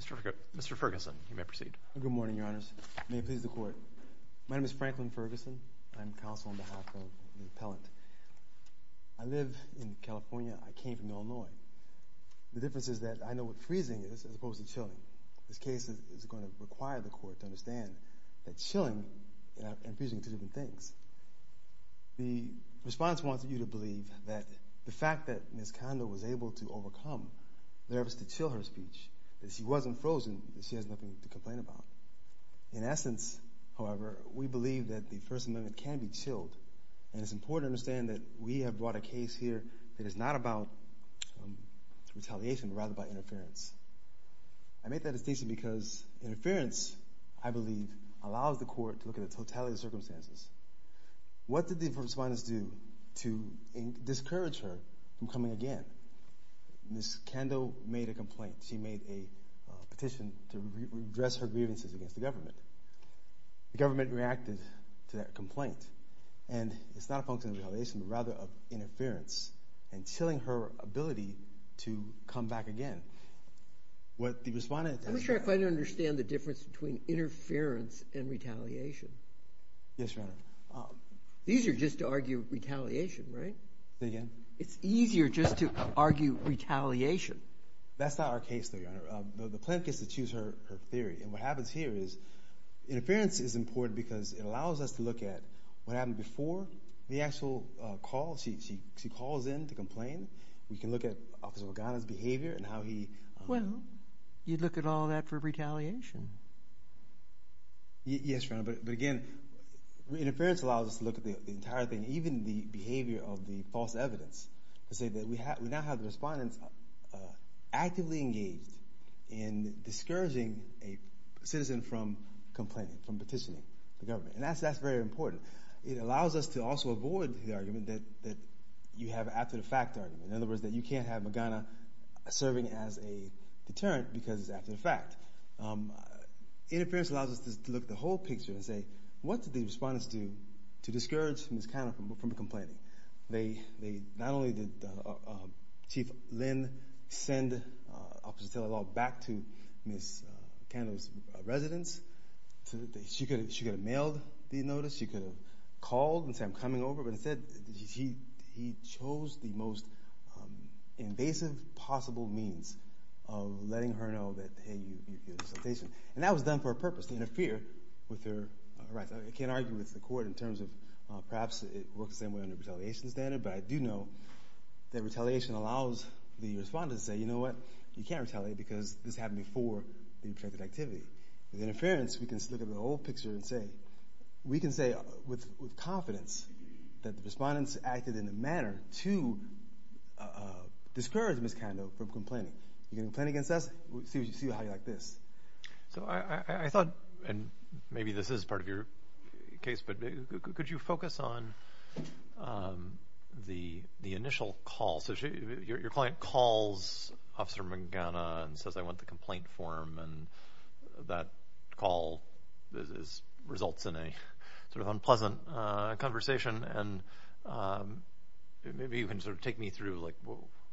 Mr. Ferguson, you may proceed. Good morning, Your Honors. May it please the Court. My name is Franklin Ferguson. I'm counsel on behalf of the appellant. I live in California. I came from Illinois. The difference is that I know what freezing is as opposed to chilling. This case is going to require the Court to understand that chilling and freezing are two different things. The response wants you to believe that the fact that Ms. Kando was able to overcome the efforts to chill her speech, that she wasn't frozen, that she has nothing to complain about. In essence, however, we believe that the First Amendment can be chilled, and it's important to understand that we have brought a case here that is not about retaliation, but rather about interference. I make that distinction because interference, I believe, allows the Court to look at the totality of the circumstances. What did the First Respondents do to discourage her from coming again? Ms. Kando made a complaint. She made a petition to redress her grievances against the government. The government reacted to that complaint, and it's not a function of retaliation, but rather of interference and chilling her ability to come back again. What the Respondents did... I'm not sure I quite understand the difference between interference and retaliation. Yes, Your Honor. These are just to argue retaliation, right? Say again? It's easier just to argue retaliation. That's not our case, though, Your Honor. The plaintiff gets to choose her theory, and what happens here is interference is important because it allows us to look at what happened before the actual call. She calls in to complain. We can look at Officer Organa's behavior and how he... Well, you'd look at all that for retaliation. Yes, Your Honor, but again, interference allows us to look at the entire thing, even the behavior of the false evidence, to say that we now have the Respondents actively engaged in discouraging a citizen from complaining, from petitioning the government, and that's very important. It allows us to also avoid the argument that you have an after-the-fact argument, in other words, that you can't have Morgana serving as a deterrent because it's after the fact. Interference allows us to look at the whole picture and say, what did the Respondents do to discourage Ms. Cano from complaining? Not only did Chief Lynn send Officer Taylor Law back to Ms. Cano's residence. She could have mailed the notice. She could have called and said, I'm coming over. But instead, he chose the most invasive possible means of letting her know that, hey, you're a citizen. And that was done for a purpose, to interfere with her rights. I can't argue with the Court in terms of perhaps it works the same way under the retaliation standard, but I do know that retaliation allows the Respondents to say, you know what, you can't retaliate because this happened before the protected activity. With interference, we can look at the whole picture and say, we can say with confidence that the Respondents acted in a manner to discourage Ms. Cano from complaining. You're going to complain against us? We'll see how you like this. So I thought, and maybe this is part of your case, but could you focus on the initial call? So your client calls Officer Mangana and says, I want the complaint form. And that call results in a sort of unpleasant conversation. And maybe you can sort of take me through, like,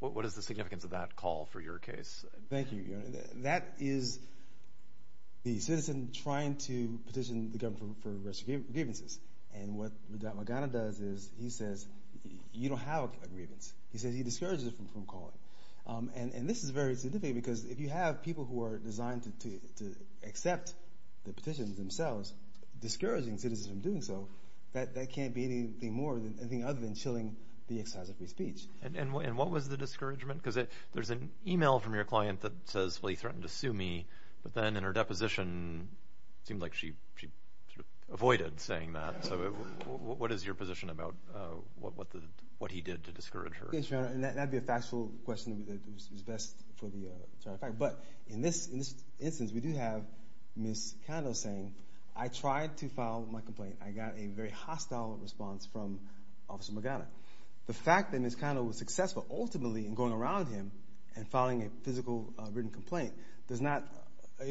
what is the significance of that call for your case? Thank you. That is the citizen trying to petition the government for restricted grievances. And what Magana does is he says, you don't have a grievance. He says he discourages it from calling. And this is very significant because if you have people who are designed to accept the petitions themselves, discouraging citizens from doing so, that can't be anything other than chilling the exercise of free speech. And what was the discouragement? Because there's an email from your client that says, well, he threatened to sue me. But then in her deposition, it seemed like she avoided saying that. So what is your position about what he did to discourage her? That would be a factual question that is best for the fact. But in this instance, we do have Ms. Kando saying, I tried to file my complaint. I got a very hostile response from Officer Magana. The fact that Ms. Kando was successful ultimately in going around him and filing a physical written complaint does not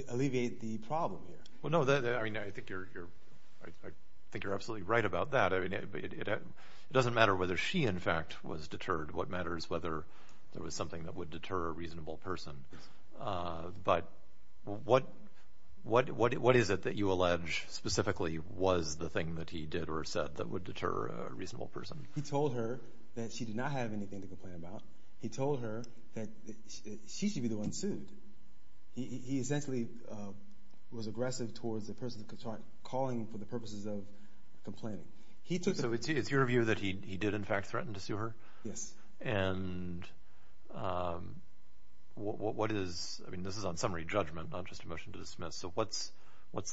alleviate the problem here. Well, no, I think you're absolutely right about that. It doesn't matter whether she, in fact, was deterred. What matters is whether there was something that would deter a reasonable person. But what is it that you allege specifically was the thing that he did or said that would deter a reasonable person? He told her that she did not have anything to complain about. He told her that she should be the one sued. He essentially was aggressive towards the person calling for the purposes of complaining. So it's your view that he did, in fact, threaten to sue her? Yes. And what is – I mean, this is on summary judgment, not just a motion to dismiss. So what's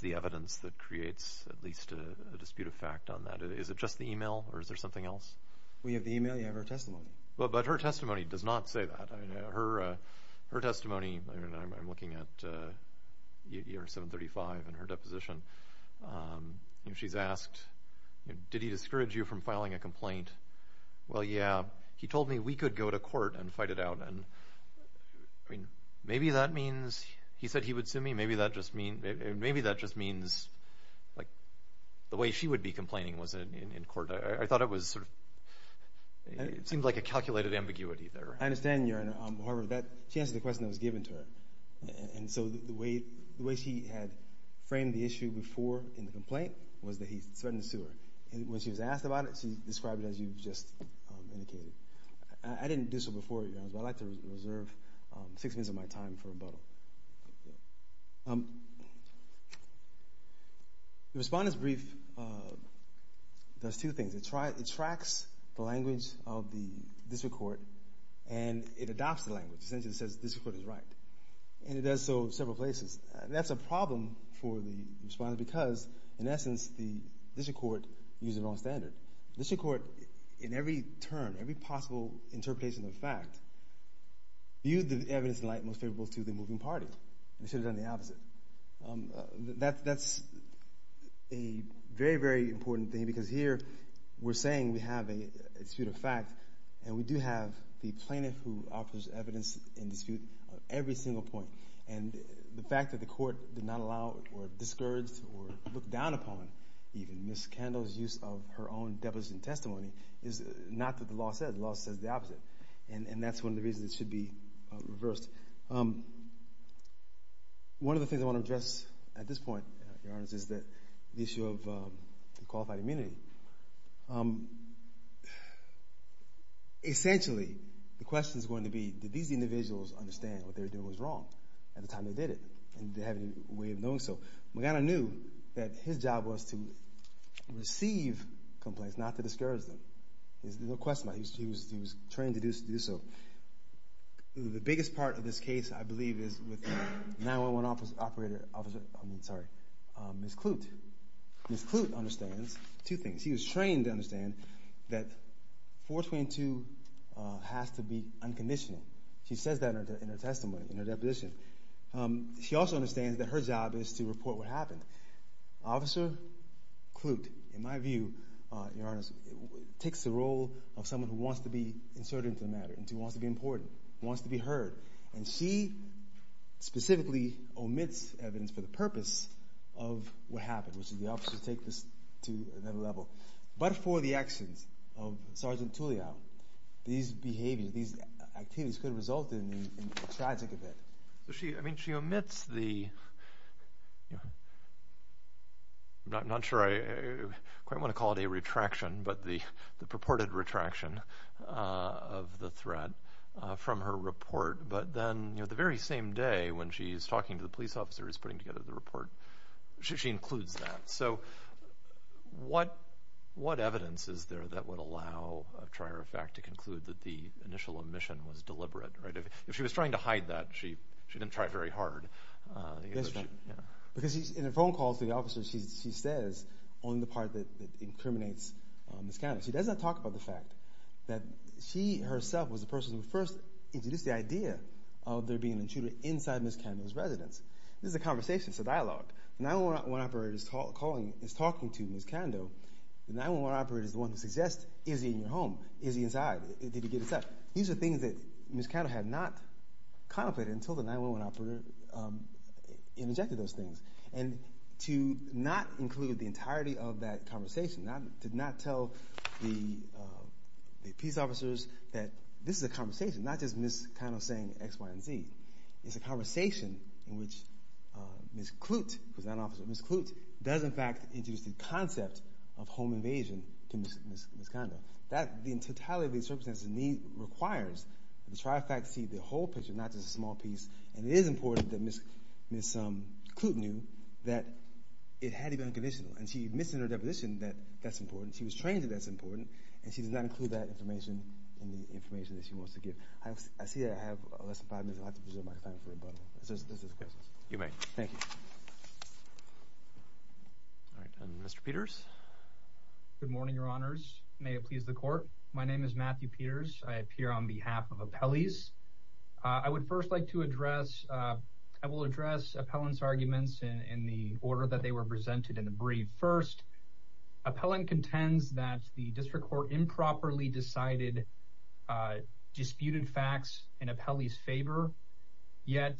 the evidence that creates at least a dispute of fact on that? Is it just the email or is there something else? We have the email. You have her testimony. But her testimony does not say that. Her testimony – I'm looking at year 735 in her deposition. She's asked, did he discourage you from filing a complaint? Well, yeah, he told me we could go to court and fight it out. And, I mean, maybe that means – he said he would sue me. Maybe that just means, like, the way she would be complaining was in court. I thought it was sort of – it seemed like a calculated ambiguity there. I understand, Your Honor. However, she answered the question that was given to her. And so the way she had framed the issue before in the complaint was that he threatened to sue her. And when she was asked about it, she described it as you've just indicated. I didn't do so before, Your Honor, but I'd like to reserve six minutes of my time for rebuttal. The Respondent's Brief does two things. It tracks the language of the district court, and it adopts the language. It essentially says the district court is right. And it does so in several places. That's a problem for the Respondent because, in essence, the district court uses the wrong standard. The district court, in every term, every possible interpretation of fact, views the evidence in light most favorable to the moving party. They should have done the opposite. That's a very, very important thing because here we're saying we have a dispute of fact, and we do have the plaintiff who offers evidence in dispute on every single point. And the fact that the court did not allow or discourage or look down upon even Ms. Kendall's use of her own deposition testimony is not what the law says. The law says the opposite. And that's one of the reasons it should be reversed. One of the things I want to address at this point, Your Honor, is the issue of qualified immunity. Essentially, the question is going to be, did these individuals understand what they were doing was wrong at the time they did it? And did they have any way of knowing so? Magana knew that his job was to receive complaints, not to discourage them. There's no question about it. He was trained to do so. The biggest part of this case, I believe, is with the 911 operator, Officer, I mean, sorry, Ms. Klute. Ms. Klute understands two things. She was trained to understand that 422 has to be unconditional. She says that in her testimony, in her deposition. She also understands that her job is to report what happened. Officer Klute, in my view, Your Honor, takes the role of someone who wants to be inserted into the matter, and she specifically omits evidence for the purpose of what happened, which is the officers take this to another level. But for the actions of Sergeant Tulio, these behaviors, these activities could result in a tragic event. So she, I mean, she omits the, I'm not sure I quite want to call it a retraction, but the purported retraction of the threat from her report. But then the very same day when she's talking to the police officers putting together the report, she includes that. So what evidence is there that would allow a trier of fact to conclude that the initial omission was deliberate? If she was trying to hide that, she didn't try very hard. Because in her phone calls to the officers, she says only the part that incriminates Ms. Kando. She does not talk about the fact that she herself was the person who first introduced the idea of there being an intruder inside Ms. Kando's residence. This is a conversation, it's a dialogue. The 911 operator is talking to Ms. Kando. The 911 operator is the one who suggests, is he in your home, is he inside, did he get inside? But these are things that Ms. Kando had not contemplated until the 911 operator interjected those things. And to not include the entirety of that conversation, to not tell the peace officers that this is a conversation, not just Ms. Kando saying X, Y, and Z. It's a conversation in which Ms. Kloot, who's not an officer, Ms. Kloot, does in fact introduce the concept of home invasion to Ms. Kando. That, in totality, represents the need, requires, to try to see the whole picture, not just a small piece. And it is important that Ms. Kloot knew that it had to be unconditional. And she admits in her deposition that that's important. She was trained that that's important. And she does not include that information in the information that she wants to give. I see I have less than five minutes. I'll have to preserve my time for rebuttal. You may. Thank you. All right, and Mr. Peters? Good morning, Your Honors. May it please the Court. My name is Matthew Peters. I appear on behalf of Appellees. I would first like to address, I will address Appellant's arguments in the order that they were presented in the brief. First, Appellant contends that the District Court improperly decided disputed facts in Appellee's favor. Yet,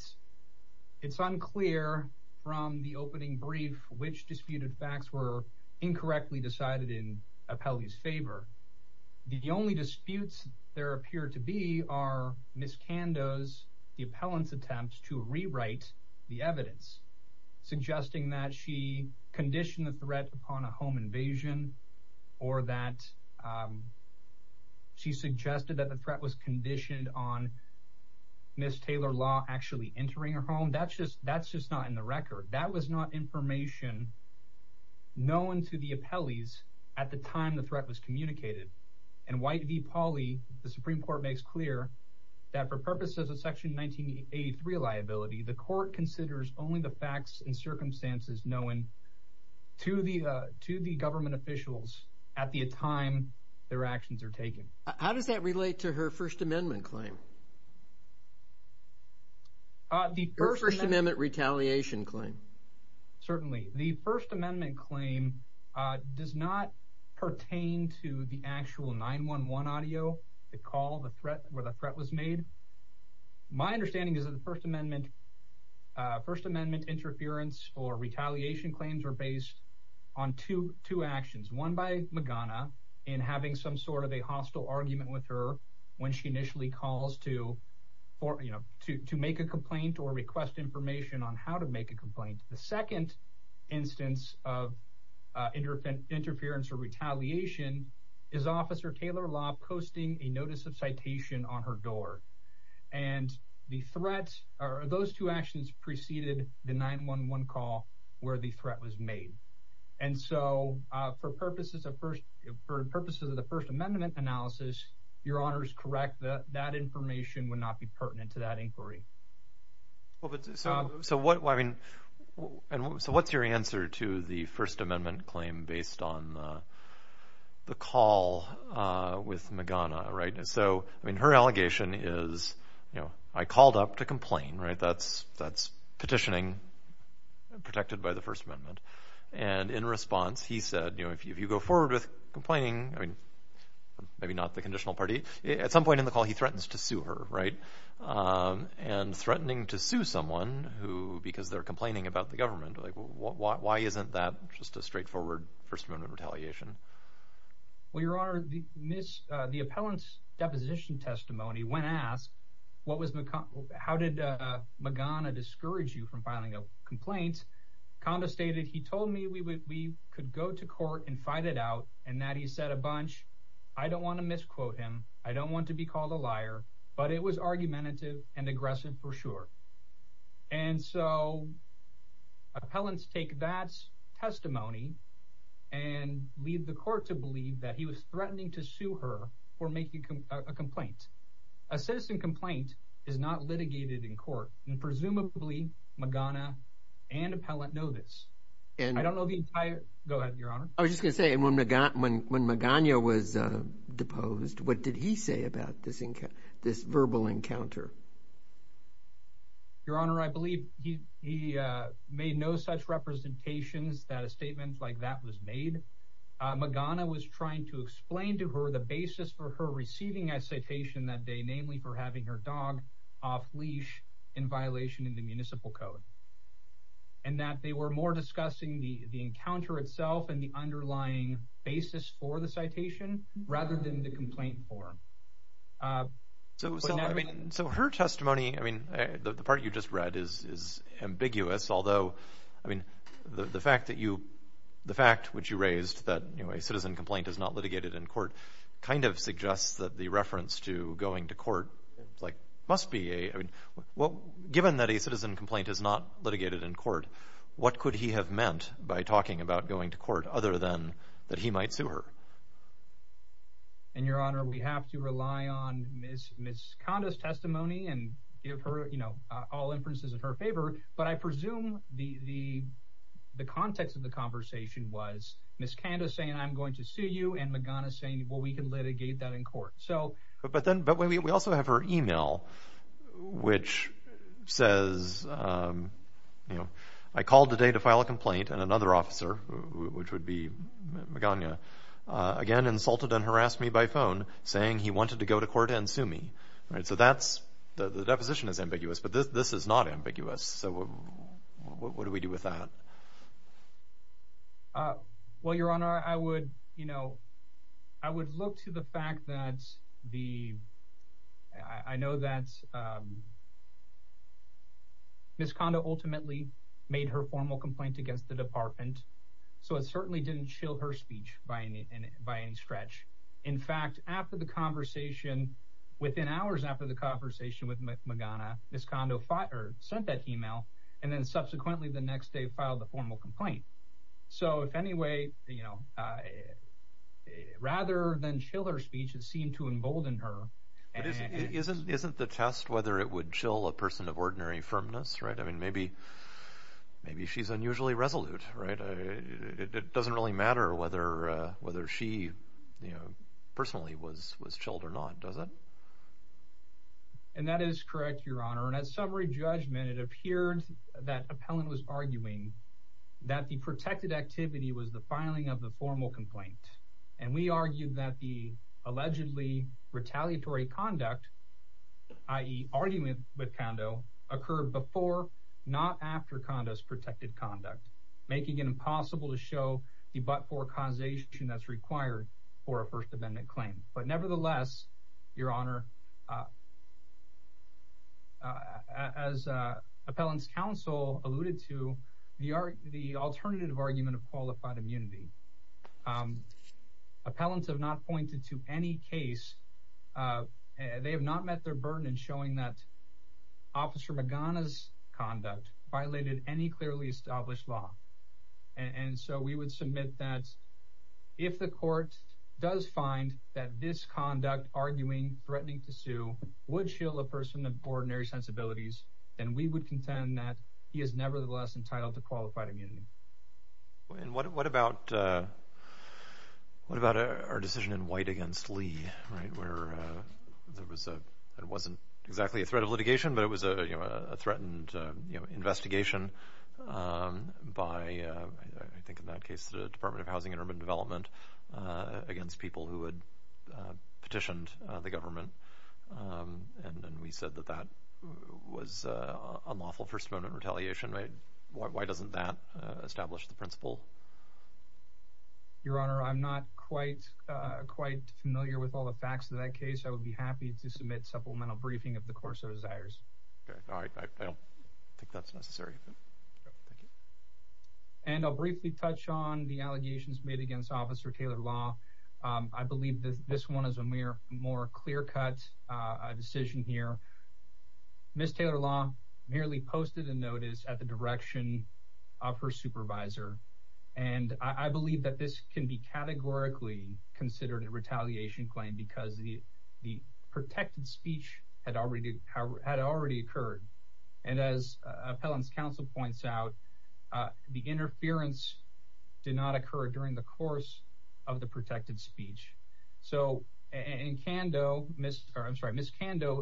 it's unclear from the opening brief which disputed facts were incorrectly decided in Appellee's favor. The only disputes there appear to be are Ms. Kando's, the Appellant's attempts to rewrite the evidence, suggesting that she conditioned the threat upon a home invasion, or that she suggested that the threat was conditioned on Ms. Taylor Law actually entering her home. That's just not in the record. That was not information known to the Appellees at the time the threat was communicated. And White v. Pauley, the Supreme Court makes clear that for purposes of Section 1983 liability, the Court considers only the facts and circumstances known to the government officials at the time their actions are taken. How does that relate to her First Amendment claim? Her First Amendment retaliation claim. Certainly. The First Amendment claim does not pertain to the actual 9-1-1 audio, the call where the threat was made. My understanding is that the First Amendment interference or retaliation claims are based on two actions. One by Magana in having some sort of a hostile argument with her when she initially calls to make a complaint or request information on how to make a complaint. The second instance of interference or retaliation is Officer Taylor Law posting a notice of citation on her door. And those two actions preceded the 9-1-1 call where the threat was made. And so, for purposes of the First Amendment analysis, Your Honor is correct. That information would not be pertinent to that inquiry. So, what's your answer to the First Amendment claim based on the call with Magana? So, her allegation is, I called up to complain. That's petitioning protected by the First Amendment. And in response, he said, if you go forward with complaining, maybe not the conditional party. At some point in the call, he threatens to sue her. And threatening to sue someone because they're complaining about the government. Why isn't that just a straightforward First Amendment retaliation? Well, Your Honor, the appellant's deposition testimony when asked, how did Magana discourage you from filing a complaint? Condestated, he told me we could go to court and fight it out. And that he said a bunch. I don't want to misquote him. I don't want to be called a liar. But it was argumentative and aggressive for sure. And so, appellants take that testimony and leave the court to believe that he was threatening to sue her for making a complaint. A citizen complaint is not litigated in court. And presumably, Magana and appellant know this. I don't know the entire – go ahead, Your Honor. I was just going to say, when Magana was deposed, what did he say about this verbal encounter? Your Honor, I believe he made no such representations that a statement like that was made. Magana was trying to explain to her the basis for her receiving a citation that day, namely for having her dog off-leash in violation of the municipal code. And that they were more discussing the encounter itself and the underlying basis for the citation rather than the complaint form. So, her testimony, I mean, the part you just read is ambiguous. Although, I mean, the fact that you – the fact which you raised that a citizen complaint is not litigated in court kind of suggests that the reference to going to court, like, must be a – well, given that a citizen complaint is not litigated in court, what could he have meant by talking about going to court other than that he might sue her? And, Your Honor, we have to rely on Ms. Kanda's testimony and give her, you know, all inferences in her favor. But I presume the context of the conversation was Ms. Kanda saying, I'm going to sue you, and Magana saying, well, we can litigate that in court. But then we also have her email, which says, you know, I called today to file a complaint, and another officer, which would be Magana, again insulted and harassed me by phone, saying he wanted to go to court and sue me. So that's – the deposition is ambiguous, but this is not ambiguous. So what do we do with that? Well, Your Honor, I would, you know, I would look to the fact that the – I know that Ms. Kanda ultimately made her formal complaint against the department, so it certainly didn't chill her speech by any stretch. In fact, after the conversation, within hours after the conversation with Magana, Ms. Kanda sent that email, and then subsequently the next day filed the formal complaint. So if any way, you know, rather than chill her speech, it seemed to embolden her. Isn't the test whether it would chill a person of ordinary firmness, right? I mean, maybe she's unusually resolute, right? It doesn't really matter whether she, you know, personally was chilled or not, does it? And that is correct, Your Honor. And at summary judgment, it appeared that appellant was arguing that the protected activity was the filing of the formal complaint. And we argued that the allegedly retaliatory conduct, i.e. argument with Kanda, occurred before, not after Kanda's protected conduct, making it impossible to show the but-for causation that's required for a First Amendment claim. But nevertheless, Your Honor, as appellant's counsel alluded to, the alternative argument of qualified immunity. Appellants have not pointed to any case. They have not met their burden in showing that Officer Magana's conduct violated any clearly established law. And so we would submit that if the court does find that this conduct, arguing, threatening to sue, would chill a person of ordinary sensibilities, then we would contend that he is nevertheless entitled to qualified immunity. And what about our decision in White against Lee, right, where it wasn't exactly a threat of litigation, but it was a threatened investigation by, I think in that case, the Department of Housing and Urban Development against people who had petitioned the government. And we said that that was unlawful First Amendment retaliation. Why doesn't that establish the principle? Your Honor, I'm not quite familiar with all the facts of that case. I would be happy to submit supplemental briefing if the court so desires. All right. I don't think that's necessary. And I'll briefly touch on the allegations made against Officer Taylor Law. I believe this one is a more clear-cut decision here. Ms. Taylor Law merely posted a notice at the direction of her supervisor. And I believe that this can be categorically considered a retaliation claim because the protected speech had already occurred. And as Appellant's counsel points out, the interference did not occur during the course of the protected speech. So Ms. Kando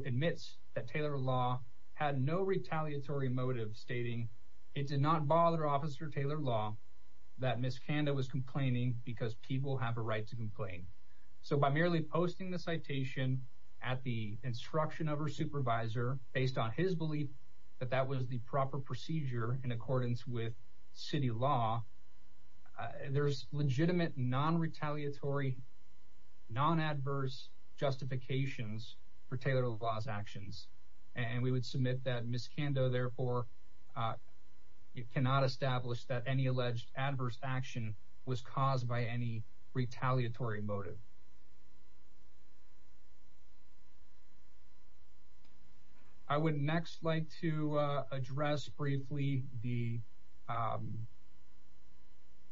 admits that Taylor Law had no retaliatory motive, stating it did not bother Officer Taylor Law that Ms. Kando was complaining because people have a right to complain. So by merely posting the citation at the instruction of her supervisor, based on his belief that that was the proper procedure in accordance with city law, there's legitimate non-retaliatory, non-adverse justifications for Taylor Law's actions. And we would submit that Ms. Kando, therefore, cannot establish that any alleged adverse action was caused by any retaliatory motive. I would next like to address briefly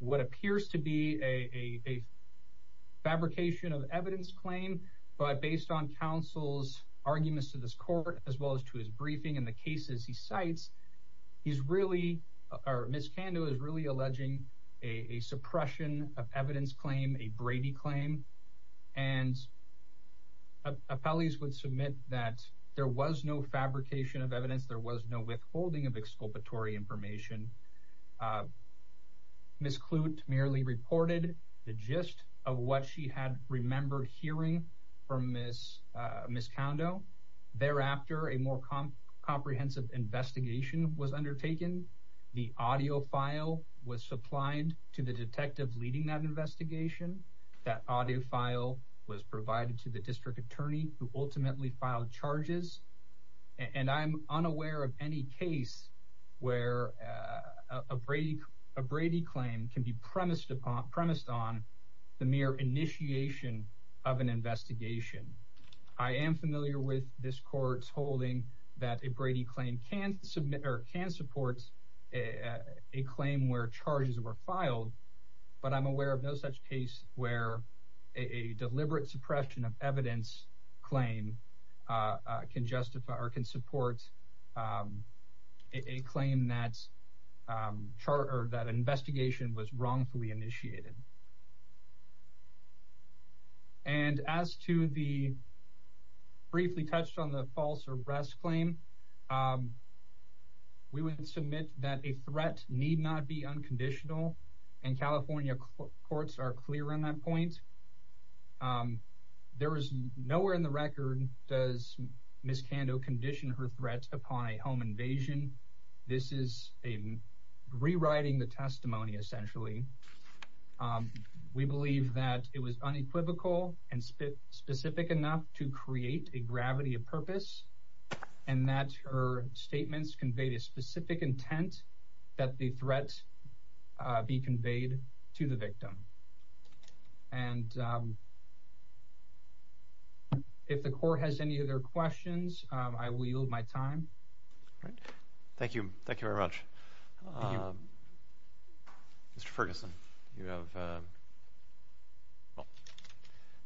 what appears to be a fabrication of evidence claim, but based on counsel's arguments to this court as well as to his briefing and the cases he cites, Ms. Kando is really alleging a suppression of evidence claim, a Brady claim. And appellees would submit that there was no fabrication of evidence, there was no withholding of exculpatory information. Ms. Klute merely reported the gist of what she had remembered hearing from Ms. Kando. Thereafter, a more comprehensive investigation was undertaken. The audio file was supplied to the detective leading that investigation. That audio file was provided to the district attorney, who ultimately filed charges. And I'm unaware of any case where a Brady claim can be premised on the mere initiation of an investigation. I am familiar with this court's holding that a Brady claim can support a claim where charges were filed, but I'm aware of no such case where a deliberate suppression of evidence claim can support a claim that an investigation was wrongfully initiated. And as to the briefly-touched-on-the-false-arrest claim, we would submit that a threat need not be unconditional, and California courts are clear on that point. There is nowhere in the record does Ms. Kando condition her threat upon a home invasion. This is a rewriting the testimony, essentially. We believe that it was unequivocal and specific enough to create a gravity of purpose, and that her statements conveyed a specific intent that the threat be conveyed to the victim. And if the court has any other questions, I will yield my time. Thank you. Thank you very much. Mr. Ferguson, you have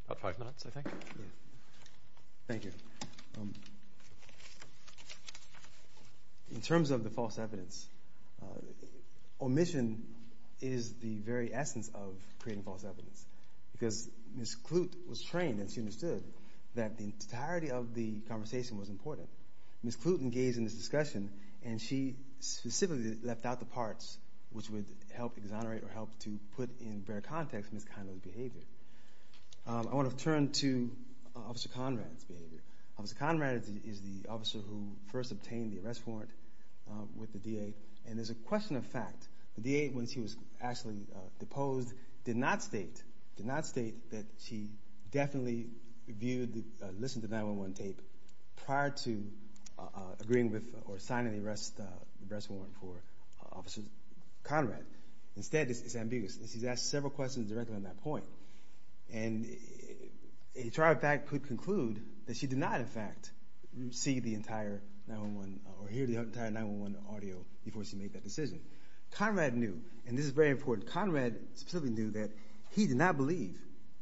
about five minutes, I think. Thank you. In terms of the false evidence, omission is the very essence of creating false evidence, because Ms. Klute was trained and she understood that the entirety of the conversation was important. Ms. Klute engaged in this discussion, and she specifically left out the parts which would help exonerate or help to put in better context Ms. Kando's behavior. I want to turn to Officer Conrad's behavior. Officer Conrad is the officer who first obtained the arrest warrant with the D.A., and there's a question of fact. The D.A., when she was actually deposed, did not state that she definitely viewed, listened to 9-1-1 tape prior to agreeing with or signing the arrest warrant for Officer Conrad. Instead, it's ambiguous, and she's asked several questions directly on that point. And a trial fact could conclude that she did not, in fact, see the entire 9-1-1 or hear the entire 9-1-1 audio before she made that decision. Conrad knew, and this is very important, Conrad specifically knew that he did not believe,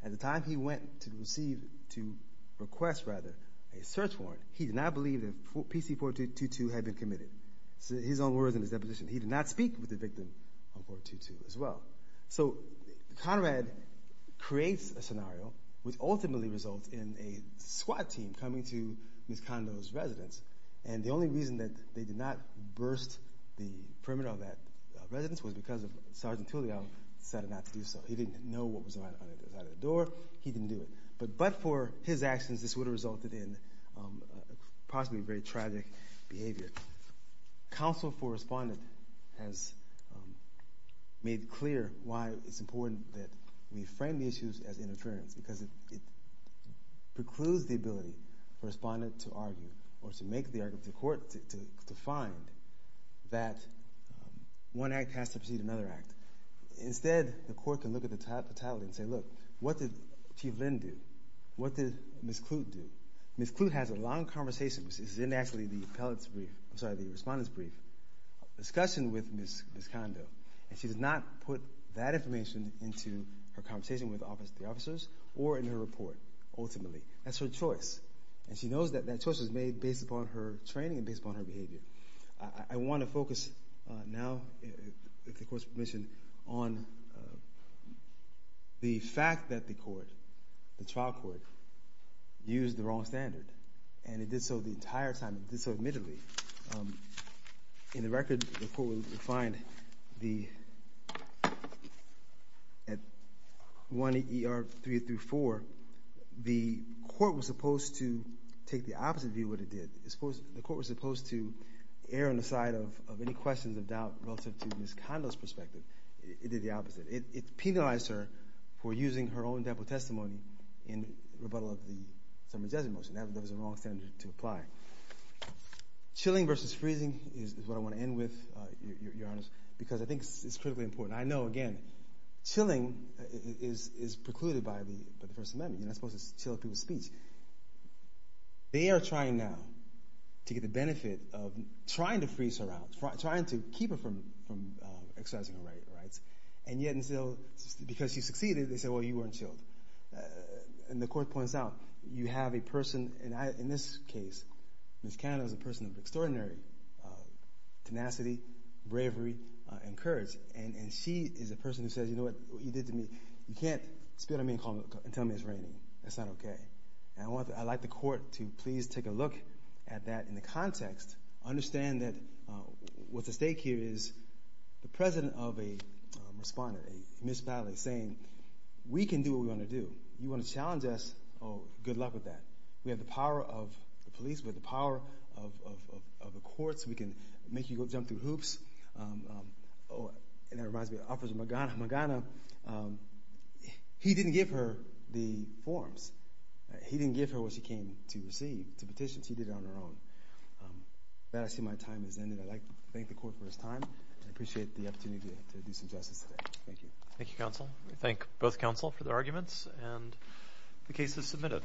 at the time he went to receive, to request, rather, a search warrant, he did not believe that PC-4222 had been committed. His own words in his deposition, he did not speak with the victim of 4222 as well. So Conrad creates a scenario which ultimately results in a squad team coming to Ms. Kando's residence, and the only reason that they did not burst the perimeter of that residence was because Sergeant Tulio decided not to do so. He didn't know what was on the other side of the door, he didn't do it. But for his actions, this would have resulted in possibly very tragic behavior. Counsel for Respondent has made clear why it's important that we frame the issues as interference, because it precludes the ability for Respondent to argue or to make the argument to court to find that one act has to precede another act. Instead, the court can look at the totality and say, look, what did Chief Lynn do? What did Ms. Kloot do? Ms. Kloot has a long conversation, which is in actually the Respondent's brief, discussion with Ms. Kando, and she does not put that information into her conversation with the officers or in her report, ultimately. That's her choice, and she knows that that choice was made based upon her training and based upon her behavior. I want to focus now, if the Court's permission, on the fact that the court, the trial court, used the wrong standard, and it did so the entire time, it did so admittedly. In the record, the court would find the 1EER334, the court was supposed to take the opposite view of what it did. The court was supposed to err on the side of any questions of doubt relative to Ms. Kando's perspective. It did the opposite. It penalized her for using her own dample testimony in rebuttal of the Sumner Jesuit motion. That was the wrong standard to apply. Chilling versus freezing is what I want to end with, Your Honor, because I think it's critically important. I know, again, chilling is precluded by the First Amendment. You're not supposed to chill people's speech. They are trying now to get the benefit of trying to freeze her out, trying to keep her from exercising her rights. And yet, because she succeeded, they say, well, you weren't chilled. And the court points out, you have a person, and in this case, Ms. Kando is a person of extraordinary tenacity, bravery, and courage. And she is a person who says, you know what you did to me? You can't spit on me and tell me it's raining. That's not okay. And I'd like the court to please take a look at that in the context, understand that what's at stake here is the president of a respondent, Ms. Bally, saying, we can do what we want to do. You want to challenge us? Oh, good luck with that. We have the power of the police. We have the power of the courts. We can make you jump through hoops. Oh, and that reminds me, Officer Magana. He didn't give her the forms. He didn't give her what she came to receive, to petition. She did it on her own. I see my time has ended. I'd like to thank the court for its time. I appreciate the opportunity to do some justice today. Thank you. Thank you, counsel. We thank both counsel for their arguments, and the case is submitted.